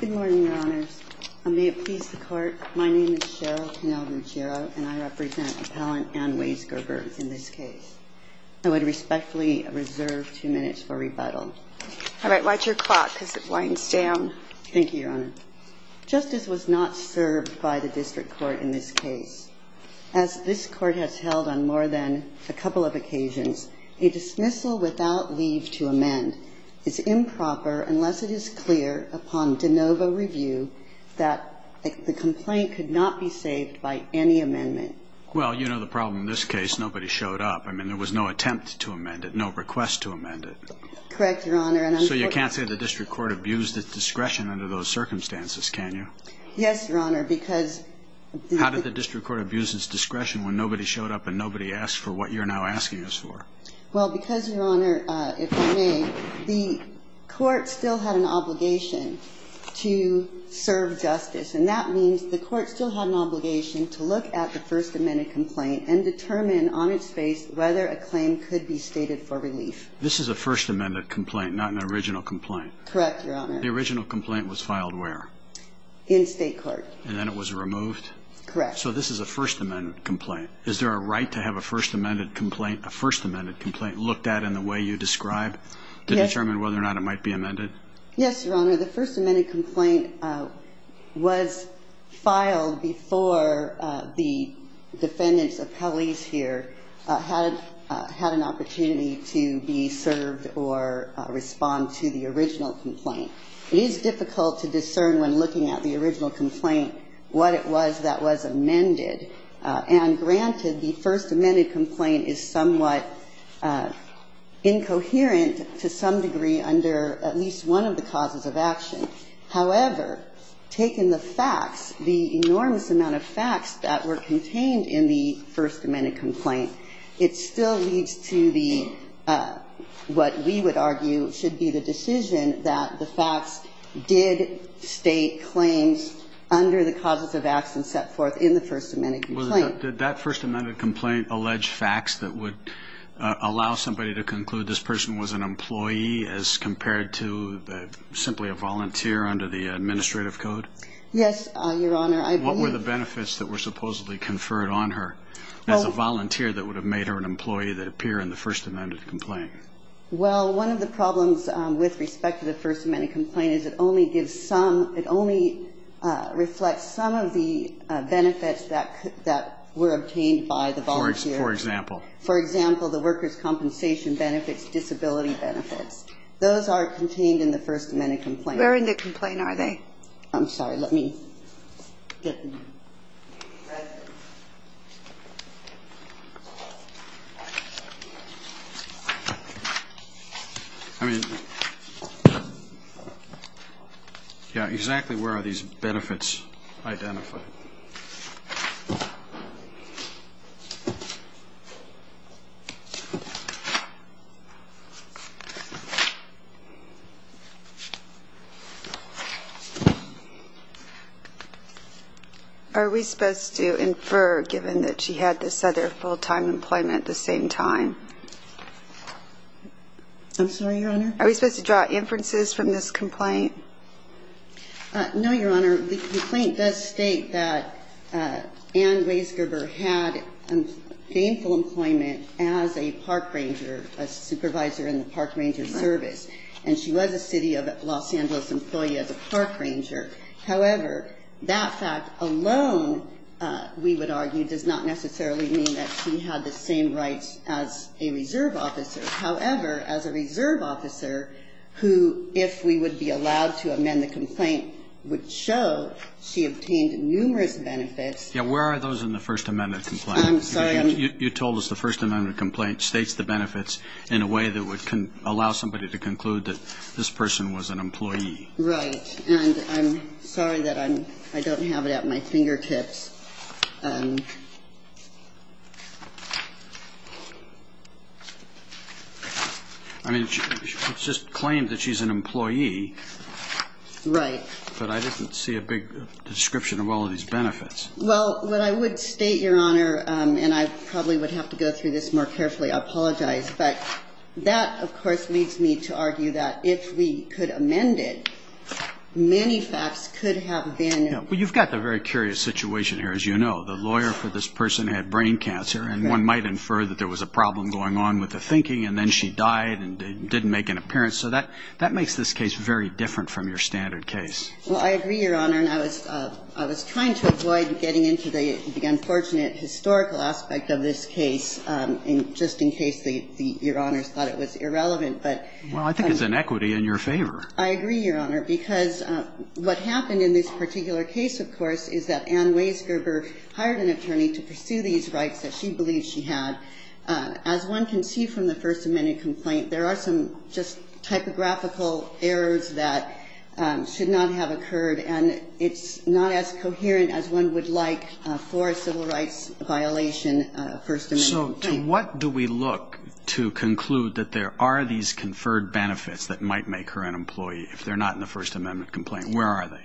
Good morning, Your Honors. And may it please the Court, my name is Cheryl Canel Ruggiero, and I represent Appellant Anne Waisgerber in this case. I would respectfully reserve two minutes for rebuttal. All right. Watch your clock, because it winds down. Thank you, Your Honor. Justice was not served by the District Court in this case. As this Court has held on more than a couple of occasions, a dismissal without leave to amend is improper unless it is clear upon de novo review that the complaint could not be saved by any amendment. Well, you know the problem in this case, nobody showed up. I mean, there was no attempt to amend it, no request to amend it. Correct, Your Honor. So you can't say the District Court abused its discretion under those circumstances, can you? Yes, Your Honor, because How did the District Court abuse its discretion when nobody showed up and nobody asked for what you're now asking us for? Well, because, Your Honor, if I may, the Court still had an obligation to serve justice, and that means the Court still had an obligation to look at the First Amendment complaint and determine on its face whether a claim could be stated for relief. This is a First Amendment complaint, not an original complaint. Correct, Your Honor. The original complaint was filed where? In State Court. And then it was removed? Correct. So this is a First Amendment complaint. Is there a right to have a First Amendment complaint looked at in the way you describe to determine whether or not it might be amended? Yes, Your Honor. The First Amendment complaint was filed before the defendants, appellees here, had an opportunity to be served or respond to the original complaint. It is difficult to discern when looking at the original complaint what it was that was amended. And granted, the First Amendment complaint is somewhat incoherent to some degree under at least one of the causes of action. However, taking the facts, the enormous amount of facts that were contained in the First Amendment complaint, it still leads to what we would argue should be the decision that the facts did state claims under the causes of action set forth in the First Amendment complaint. Did that First Amendment complaint allege facts that would allow somebody to conclude this person was an employee as compared to simply a volunteer under the administrative code? Yes, Your Honor. What were the benefits that were supposedly conferred on her as a volunteer that would have made her an employee that appear in the First Amendment complaint? Well, one of the problems with respect to the First Amendment complaint is it only reflects some of the benefits that were obtained by the volunteer. For example? For example, the workers' compensation benefits, disability benefits. Those are contained in the First Amendment complaint. Where in the complaint are they? I'm sorry. Let me get the... I mean, yeah, exactly where are these benefits identified? Are we supposed to infer, given that she had this other full-time employment at the same time? I'm sorry, Your Honor? Are we supposed to draw inferences from this complaint? No, Your Honor. The complaint does state that Ann Raysgerber had gainful employment as a park ranger, a supervisor in the park ranger service, and she was a city of Los Angeles employee as a park ranger. However, that fact alone, we would argue, does not necessarily mean that she had the same rights as a reserve officer. However, as a reserve officer who, if we would be allowed to amend the complaint, would show she obtained numerous benefits... Yeah, where are those in the First Amendment complaint? I'm sorry. You told us the First Amendment complaint states the benefits in a way that would allow somebody to conclude that this person was an employee. Right. And I'm sorry that I don't have it at my fingertips. I mean, it's just claimed that she's an employee. Right. But I didn't see a big description of all of these benefits. Well, what I would state, Your Honor, and I probably would have to go through this more carefully, I apologize, but that, of course, leads me to argue that if we could amend it, many facts could have been... Yeah. Well, you've got the very curious situation here, as you know. The lawyer for this person had brain cancer, and one might infer that there was a problem going on with the thinking, and then she died and didn't make an appearance. So that makes this case very different from your standard case. Well, I agree, Your Honor, and I was trying to avoid getting into the unfortunate historical aspect of this case, just in case Your Honors thought it was irrelevant. Well, I think it's an equity in your favor. I agree, Your Honor, because what happened in this particular case, of course, is that Ann Weisgerber hired an attorney to pursue these rights that she believed she had. As one can see from the First Amendment complaint, there are some just typographical errors that should not have occurred, and it's not as coherent as one would like for a civil rights violation, First Amendment claim. So to what do we look to conclude that there are these conferred benefits that might make her an employee if they're not in the First Amendment complaint? Where are they?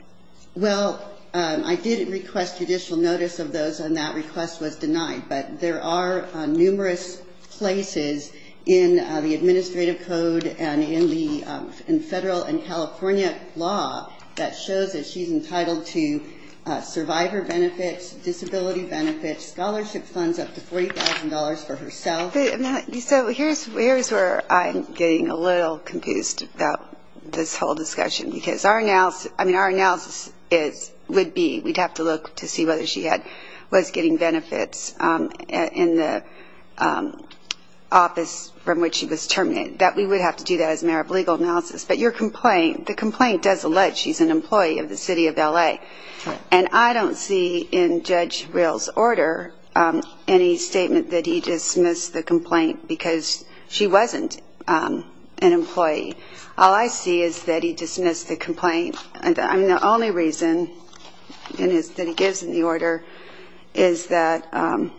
Well, I did request judicial notice of those, and that request was denied. But there are numerous places in the administrative code and in the federal and California law that shows that she's entitled to survivor benefits, disability benefits, scholarship funds up to $40,000 for herself. So here's where I'm getting a little confused about this whole discussion, because our analysis would be we'd have to look to see whether she was getting benefits in the office from which she was terminated, that we would have to do that as a matter of legal analysis. But the complaint does allege she's an employee of the city of L.A., and I don't see in Judge Rill's order any statement that he dismissed the complaint because she wasn't an employee. All I see is that he dismissed the complaint, and the only reason that he gives in the order is that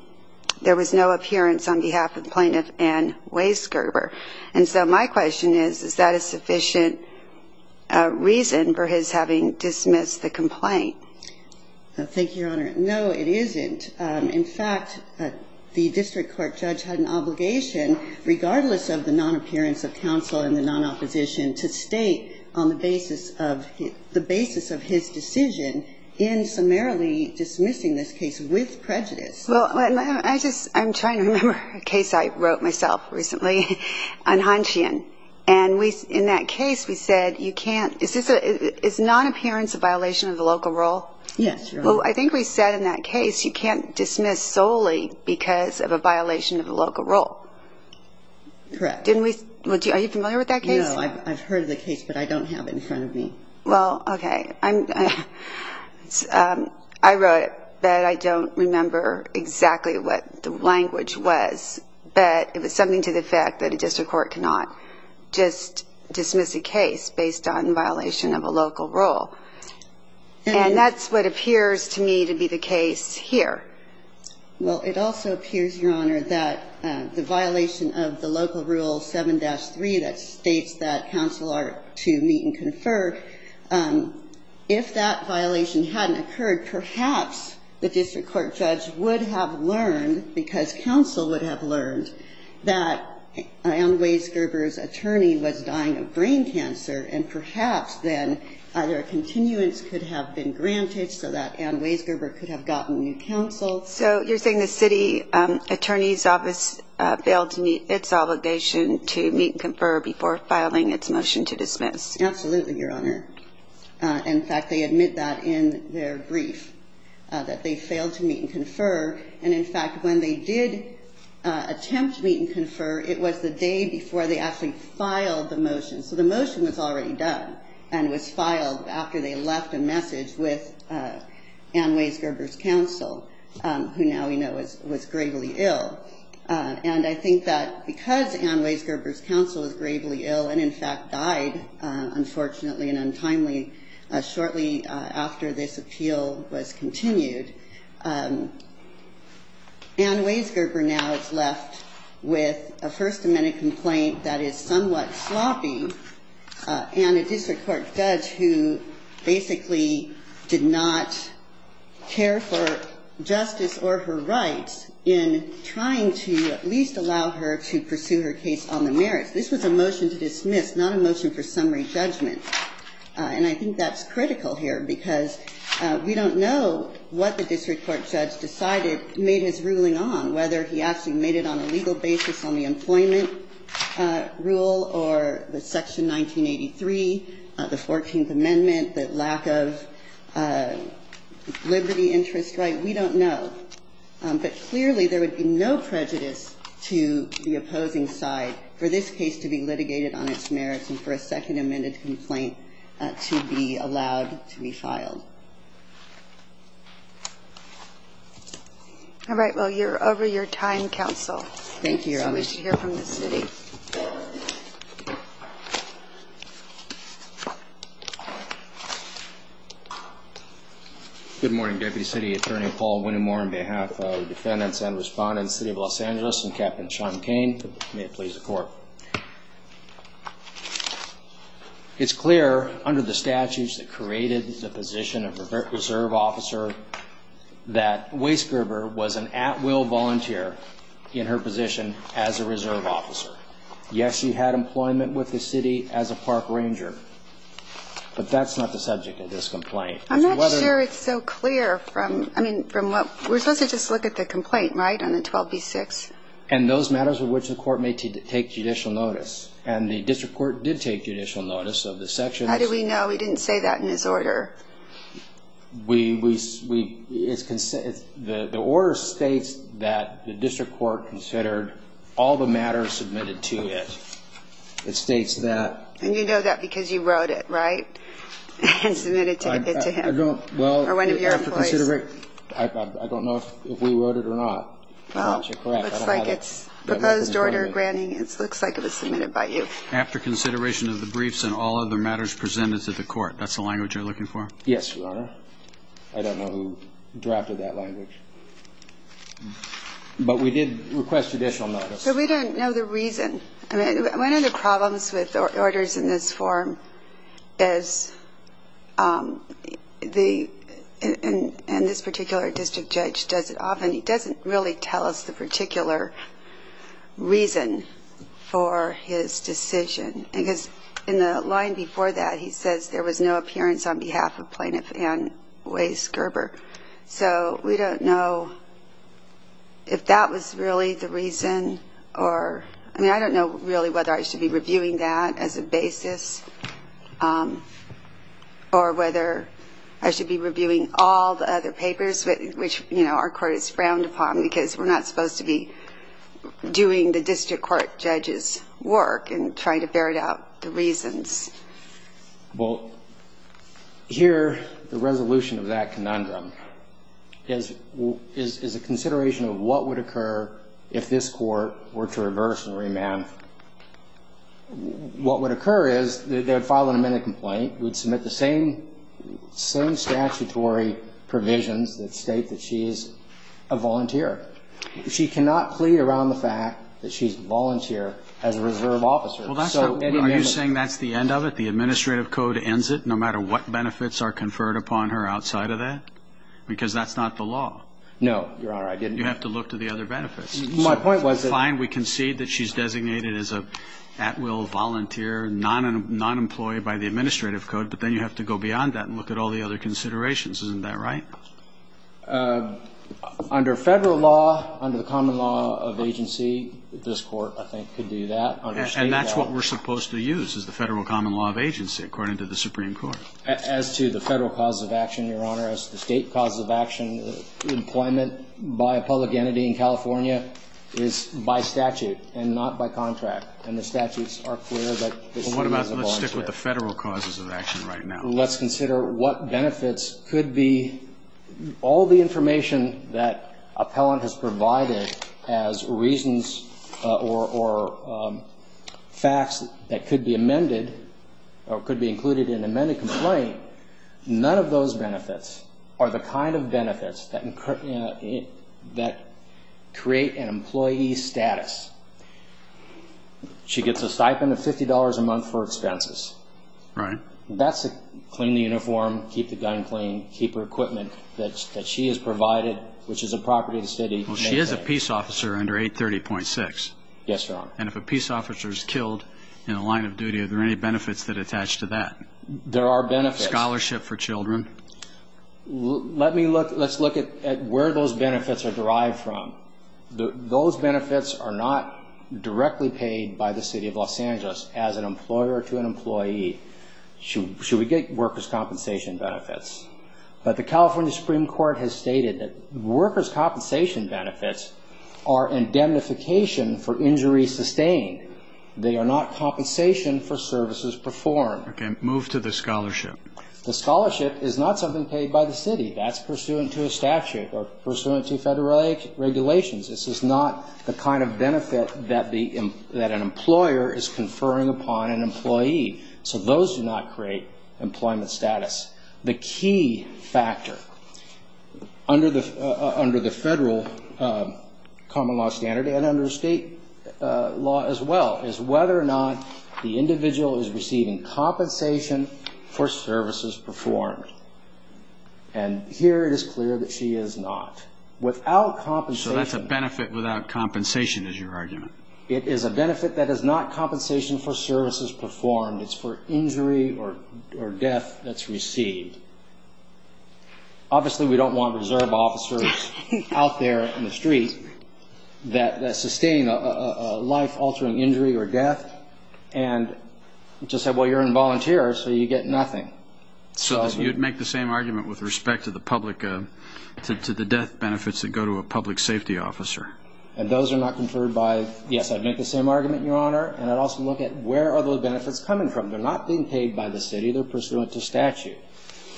there was no appearance on behalf of Plaintiff Ann Weisgerber. And so my question is, is that a sufficient reason for his having dismissed the complaint? Thank you, Your Honor. No, it isn't. In fact, the district court judge had an obligation, regardless of the non-appearance of counsel and the non-opposition, to state on the basis of his decision in summarily dismissing this case with prejudice. I'm trying to remember a case I wrote myself recently on Hanshian, and in that case we said you can't – is non-appearance a violation of the local rule? Yes, Your Honor. Well, I think we said in that case you can't dismiss solely because of a violation of the local rule. Correct. Are you familiar with that case? No, I've heard of the case, but I don't have it in front of me. Well, okay. I wrote it, but I don't remember exactly what the language was. But it was something to the effect that a district court cannot just dismiss a case based on violation of a local rule. And that's what appears to me to be the case here. Well, it also appears, Your Honor, that the violation of the local rule 7-3 that states that counsel are to meet and confer, if that violation hadn't occurred, perhaps the district court judge would have learned, because counsel would have learned, that Ann Weisgerber's attorney was dying of brain cancer, and perhaps then either a continuance could have been granted so that Ann Weisgerber could have gotten new counsel. So you're saying the city attorney's office failed to meet its obligation to meet and confer before filing its motion to dismiss? Absolutely, Your Honor. In fact, they admit that in their brief, that they failed to meet and confer. And, in fact, when they did attempt to meet and confer, it was the day before they actually filed the motion. So the motion was already done and was filed after they left a message with Ann Weisgerber's counsel, who now we know was gravely ill. And I think that because Ann Weisgerber's counsel was gravely ill and, in fact, died, unfortunately and untimely, shortly after this appeal was continued, Ann Weisgerber now is left with a First Amendment complaint that is somewhat sloppy and a district court judge who basically did not care for justice or her rights in trying to at least allow her to pursue her case on the merits. This was a motion to dismiss, not a motion for summary judgment. And I think that's critical here, because we don't know what the district court judge decided made his ruling on, whether he actually made it on a legal basis on the employment rule or the Section 1983, the Fourteenth Amendment, the lack of liberty, interest, right? We don't know. But clearly, there would be no prejudice to the opposing side for this case to be litigated on its merits and for a Second Amendment complaint to be allowed to be filed. All right. Well, you're over your time, counsel. Thank you, Your Honor. I wish to hear from the city. Good morning, Deputy City Attorney Paul Winnemore. On behalf of the defendants and respondents, City of Los Angeles, and Captain Sean Cain, may it please the Court. It's clear under the statutes that created the position of reserve officer that Wace Gerber was an at-will volunteer in her position as a reserve officer. Yes, she had employment with the city as a park ranger, but that's not the subject of this complaint. I'm not sure it's so clear from what we're supposed to just look at the complaint, right, on the 12b-6. And those matters with which the Court may take judicial notice, and the district court did take judicial notice of the sections. How do we know? We didn't say that in this order. The order states that the district court considered all the matters submitted to it. It states that. And you know that because you wrote it, right, and submitted it to him, or one of your employees. I don't know if we wrote it or not. Well, it looks like it's proposed order granting. It looks like it was submitted by you. After consideration of the briefs and all other matters presented to the Court. That's the language you're looking for? Yes, Your Honor. I don't know who drafted that language. But we did request judicial notice. But we don't know the reason. One of the problems with orders in this form is, and this particular district judge does it often, he doesn't really tell us the particular reason for his decision. Because in the line before that, he says there was no appearance on behalf of Plaintiff Ann Weis-Gerber. So we don't know if that was really the reason. Or, I mean, I don't know really whether I should be reviewing that as a basis. Or whether I should be reviewing all the other papers, which, you know, our court is frowned upon, because we're not supposed to be doing the district court judge's work and trying to ferret out the reasons. Well, here, the resolution of that conundrum is a consideration of what would occur if this court were to reverse and remand. What would occur is they would file an amended complaint. We'd submit the same statutory provisions that state that she's a volunteer. She cannot plead around the fact that she's a volunteer as a reserve officer. Are you saying that's the end of it? The administrative code ends it no matter what benefits are conferred upon her outside of that? Because that's not the law. No, Your Honor, I didn't. You have to look to the other benefits. My point was that Fine, we concede that she's designated as an at-will volunteer, non-employee by the administrative code, but then you have to go beyond that and look at all the other considerations. Isn't that right? Under federal law, under the common law of agency, this court, I think, could do that. And that's what we're supposed to use is the federal common law of agency, according to the Supreme Court. As to the federal causes of action, Your Honor, as the state causes of action, employment by a public entity in California is by statute and not by contract. And the statutes are clear that she is a volunteer. Well, what about, let's stick with the federal causes of action right now. Let's consider what benefits could be all the information that appellant has provided as reasons or facts that could be amended or could be included in an amended complaint. None of those benefits are the kind of benefits that create an employee status. She gets a stipend of $50 a month for expenses. Right. That's to clean the uniform, keep the gun clean, keep her equipment that she has provided, which is a property of the city. Well, she is a peace officer under 830.6. Yes, Your Honor. And if a peace officer is killed in a line of duty, are there any benefits that attach to that? There are benefits. Scholarship for children. Let's look at where those benefits are derived from. Those benefits are not directly paid by the city of Los Angeles as an employer to an employee. Should we get workers' compensation benefits? But the California Supreme Court has stated that workers' compensation benefits are indemnification for injuries sustained. They are not compensation for services performed. Okay. Move to the scholarship. The scholarship is not something paid by the city. That's pursuant to a statute or pursuant to federal regulations. This is not the kind of benefit that an employer is conferring upon an employee. So those do not create employment status. The key factor under the federal common law standard and under state law as well is whether or not the individual is receiving compensation for services performed. And here it is clear that she is not. Without compensation. So that's a benefit without compensation is your argument. It is a benefit that is not compensation for services performed. It's for injury or death that's received. Obviously we don't want reserve officers out there in the street that sustain a life-altering injury or death and just say, well, you're a volunteer so you get nothing. So you'd make the same argument with respect to the public, to the death benefits that go to a public safety officer. And those are not conferred by, yes, I'd make the same argument, Your Honor, and I'd also look at where are those benefits coming from. They're not being paid by the city. They're pursuant to statute.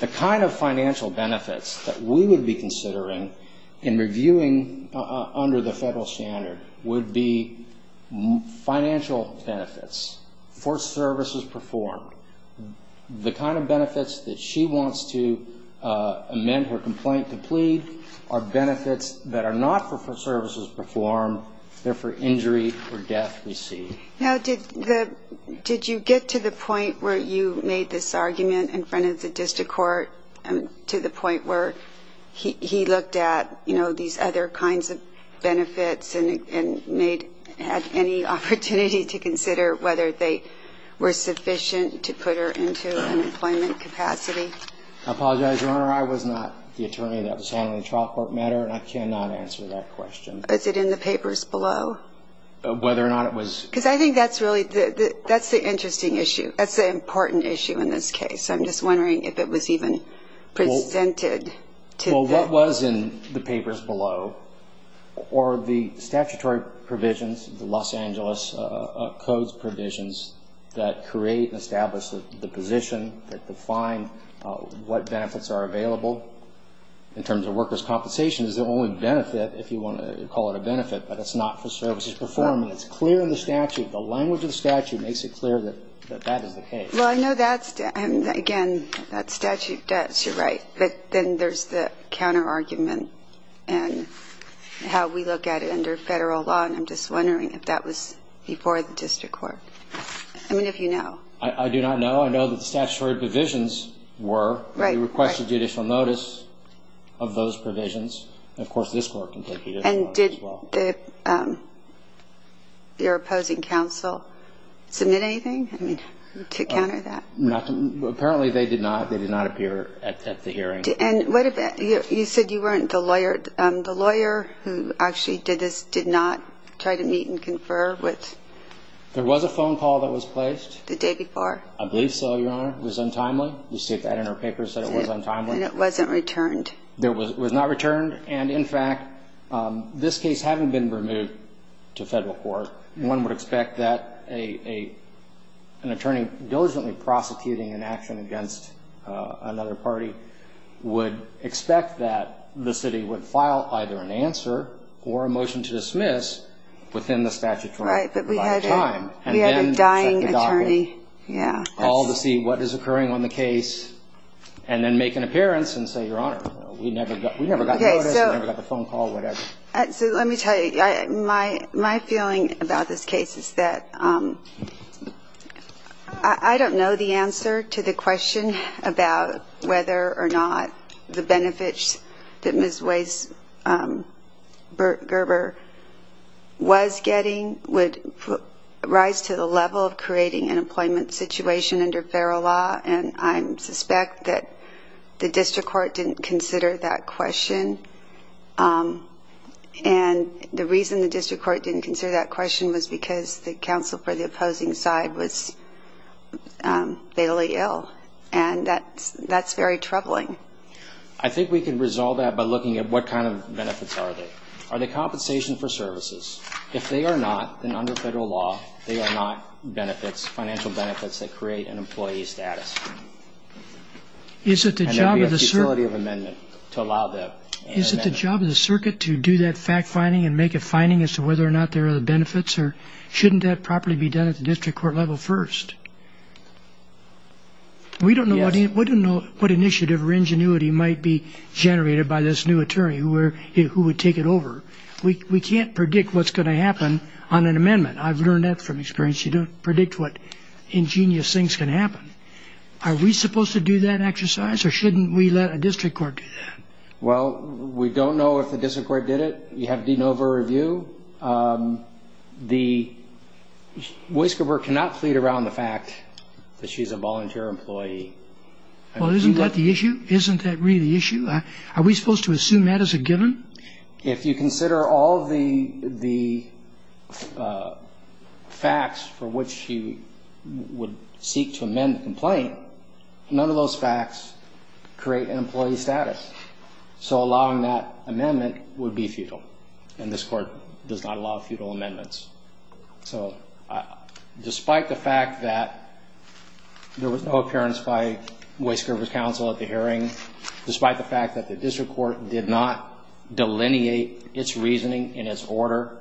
The kind of financial benefits that we would be considering in reviewing under the federal standard would be financial benefits for services performed. The kind of benefits that she wants to amend her complaint to plead are benefits that are not for services performed. They're for injury or death received. Now, did you get to the point where you made this argument in front of the district court to the point where he looked at, you know, these other kinds of benefits and had any opportunity to consider whether they were sufficient to put her into an employment capacity? I apologize, Your Honor. I was not the attorney that was handling the trial court matter, and I cannot answer that question. Is it in the papers below? Whether or not it was. Because I think that's really the interesting issue. That's the important issue in this case. I'm just wondering if it was even presented to them. Well, what was in the papers below were the statutory provisions, the Los Angeles codes provisions, that create and establish the position that define what benefits are available in terms of workers' compensation. Now, that definition is the only benefit, if you want to call it a benefit, but it's not for services performed. And it's clear in the statute. The language of the statute makes it clear that that is the case. Well, I know that's, again, that statute does. You're right. But then there's the counterargument and how we look at it under Federal law, and I'm just wondering if that was before the district court. I mean, if you know. I do not know. I know that the statutory provisions were. Right. They requested judicial notice of those provisions. And, of course, this court can take judicial notice as well. And did their opposing counsel submit anything to counter that? Apparently they did not. They did not appear at the hearing. And you said you weren't the lawyer. The lawyer who actually did this did not try to meet and confer with. There was a phone call that was placed. The day before. I believe so, Your Honor. It was untimely. You see that in our papers that it was untimely. And it wasn't returned. It was not returned. And, in fact, this case having been removed to Federal court, one would expect that an attorney diligently prosecuting an action against another party would expect that the city would file either an answer or a motion to dismiss within the statutory. Right. But we had a dying attorney. Call to see what is occurring on the case and then make an appearance and say, Your Honor, we never got the notice. We never got the phone call, whatever. So let me tell you. My feeling about this case is that I don't know the answer to the question about whether or not the benefits that Ms. Weiss Gerber was getting would rise to the employment situation under Federal law. And I suspect that the district court didn't consider that question. And the reason the district court didn't consider that question was because the counsel for the opposing side was fatally ill. And that's very troubling. I think we can resolve that by looking at what kind of benefits are they. Are they compensation for services? If they are not, then under Federal law, they are not benefits, financial benefits that create an employee status. And there would be a futility of amendment to allow that. Is it the job of the circuit to do that fact finding and make a finding as to whether or not there are benefits? Or shouldn't that properly be done at the district court level first? We don't know what initiative or ingenuity might be generated by this new attorney who would take it over. We can't predict what's going to happen on an amendment. I've learned that from experience. You don't predict what ingenious things can happen. Are we supposed to do that exercise? Or shouldn't we let a district court do that? Well, we don't know if the district court did it. You have DeNova review. Weiss Gerber cannot plead around the fact that she's a volunteer employee. Well, isn't that the issue? Isn't that really the issue? Are we supposed to assume that as a given? If you consider all the facts for which you would seek to amend the complaint, none of those facts create an employee status. So allowing that amendment would be futile. And this court does not allow futile amendments. So despite the fact that there was no appearance by Weiss Gerber's counsel at the hearing, despite the fact that the district court did not delineate its reasoning in its order,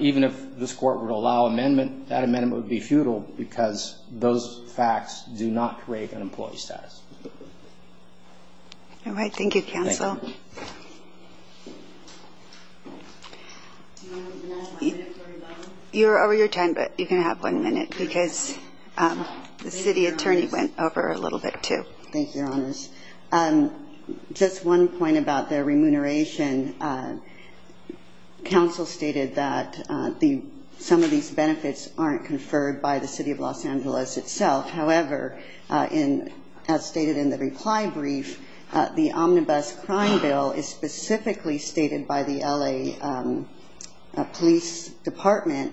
even if this court would allow amendment, that amendment would be futile because those facts do not create an employee status. All right. Thank you, counsel. You're over your time, but you can have one minute because the city attorney went over a little bit too. Thank you, Your Honors. Just one point about the remuneration. Counsel stated that some of these benefits aren't conferred by the city of Los Angeles itself. However, as stated in the reply brief, the Omnibus Crime Bill is specifically stated by the L.A. Police Department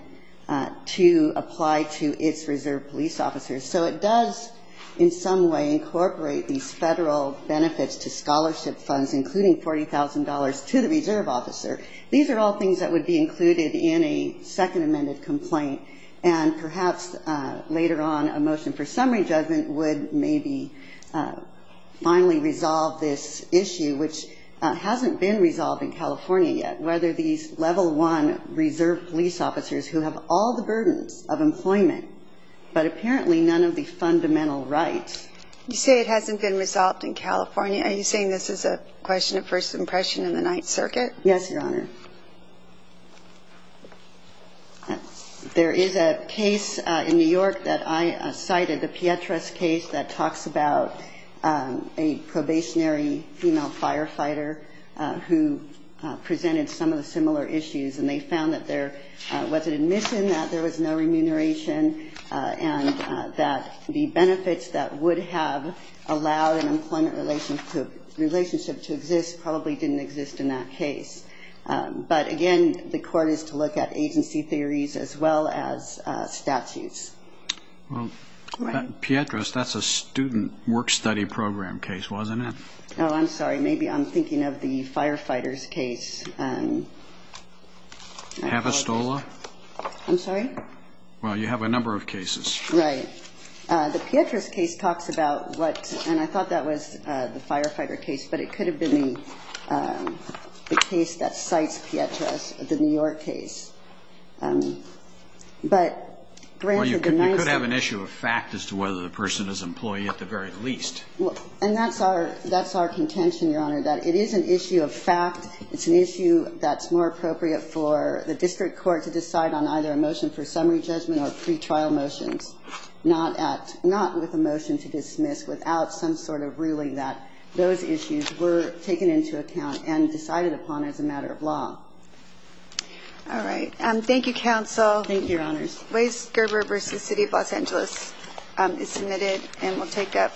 to apply to its reserve police officers. So it does in some way incorporate these federal benefits to scholarship funds, including $40,000 to the reserve officer. These are all things that would be included in a second amended complaint, and perhaps later on a motion for summary judgment would maybe finally resolve this issue, which hasn't been resolved in California yet, whether these level one reserve police officers who have all the burdens of employment but apparently none of the fundamental rights. You say it hasn't been resolved in California. Are you saying this is a question of first impression in the Ninth Circuit? Yes, Your Honor. There is a case in New York that I cited, the Pietras case, that talks about a probationary female firefighter who presented some of the similar issues, and they found that there was an admission that there was no remuneration and that the benefits that would have allowed an employment relationship to exist probably didn't exist in that case. But, again, the court is to look at agency theories as well as statutes. Well, Pietras, that's a student work study program case, wasn't it? Oh, I'm sorry. Maybe I'm thinking of the firefighters case. Havistola? I'm sorry? Well, you have a number of cases. Right. The Pietras case talks about what, and I thought that was the firefighter case, but it could have been the case that cites Pietras, the New York case. But grants have been nice. Well, you could have an issue of fact as to whether the person is employee at the very least. And that's our contention, Your Honor, that it is an issue of fact. It's an issue that's more appropriate for the district court to decide on either a motion for summary judgment or pretrial motions, not with a motion to dismiss without some sort of ruling that those issues were taken into account and decided upon as a matter of law. All right. Thank you, counsel. Thank you, Your Honors. Ways Gerber v. City of Los Angeles is submitted, and we'll take up.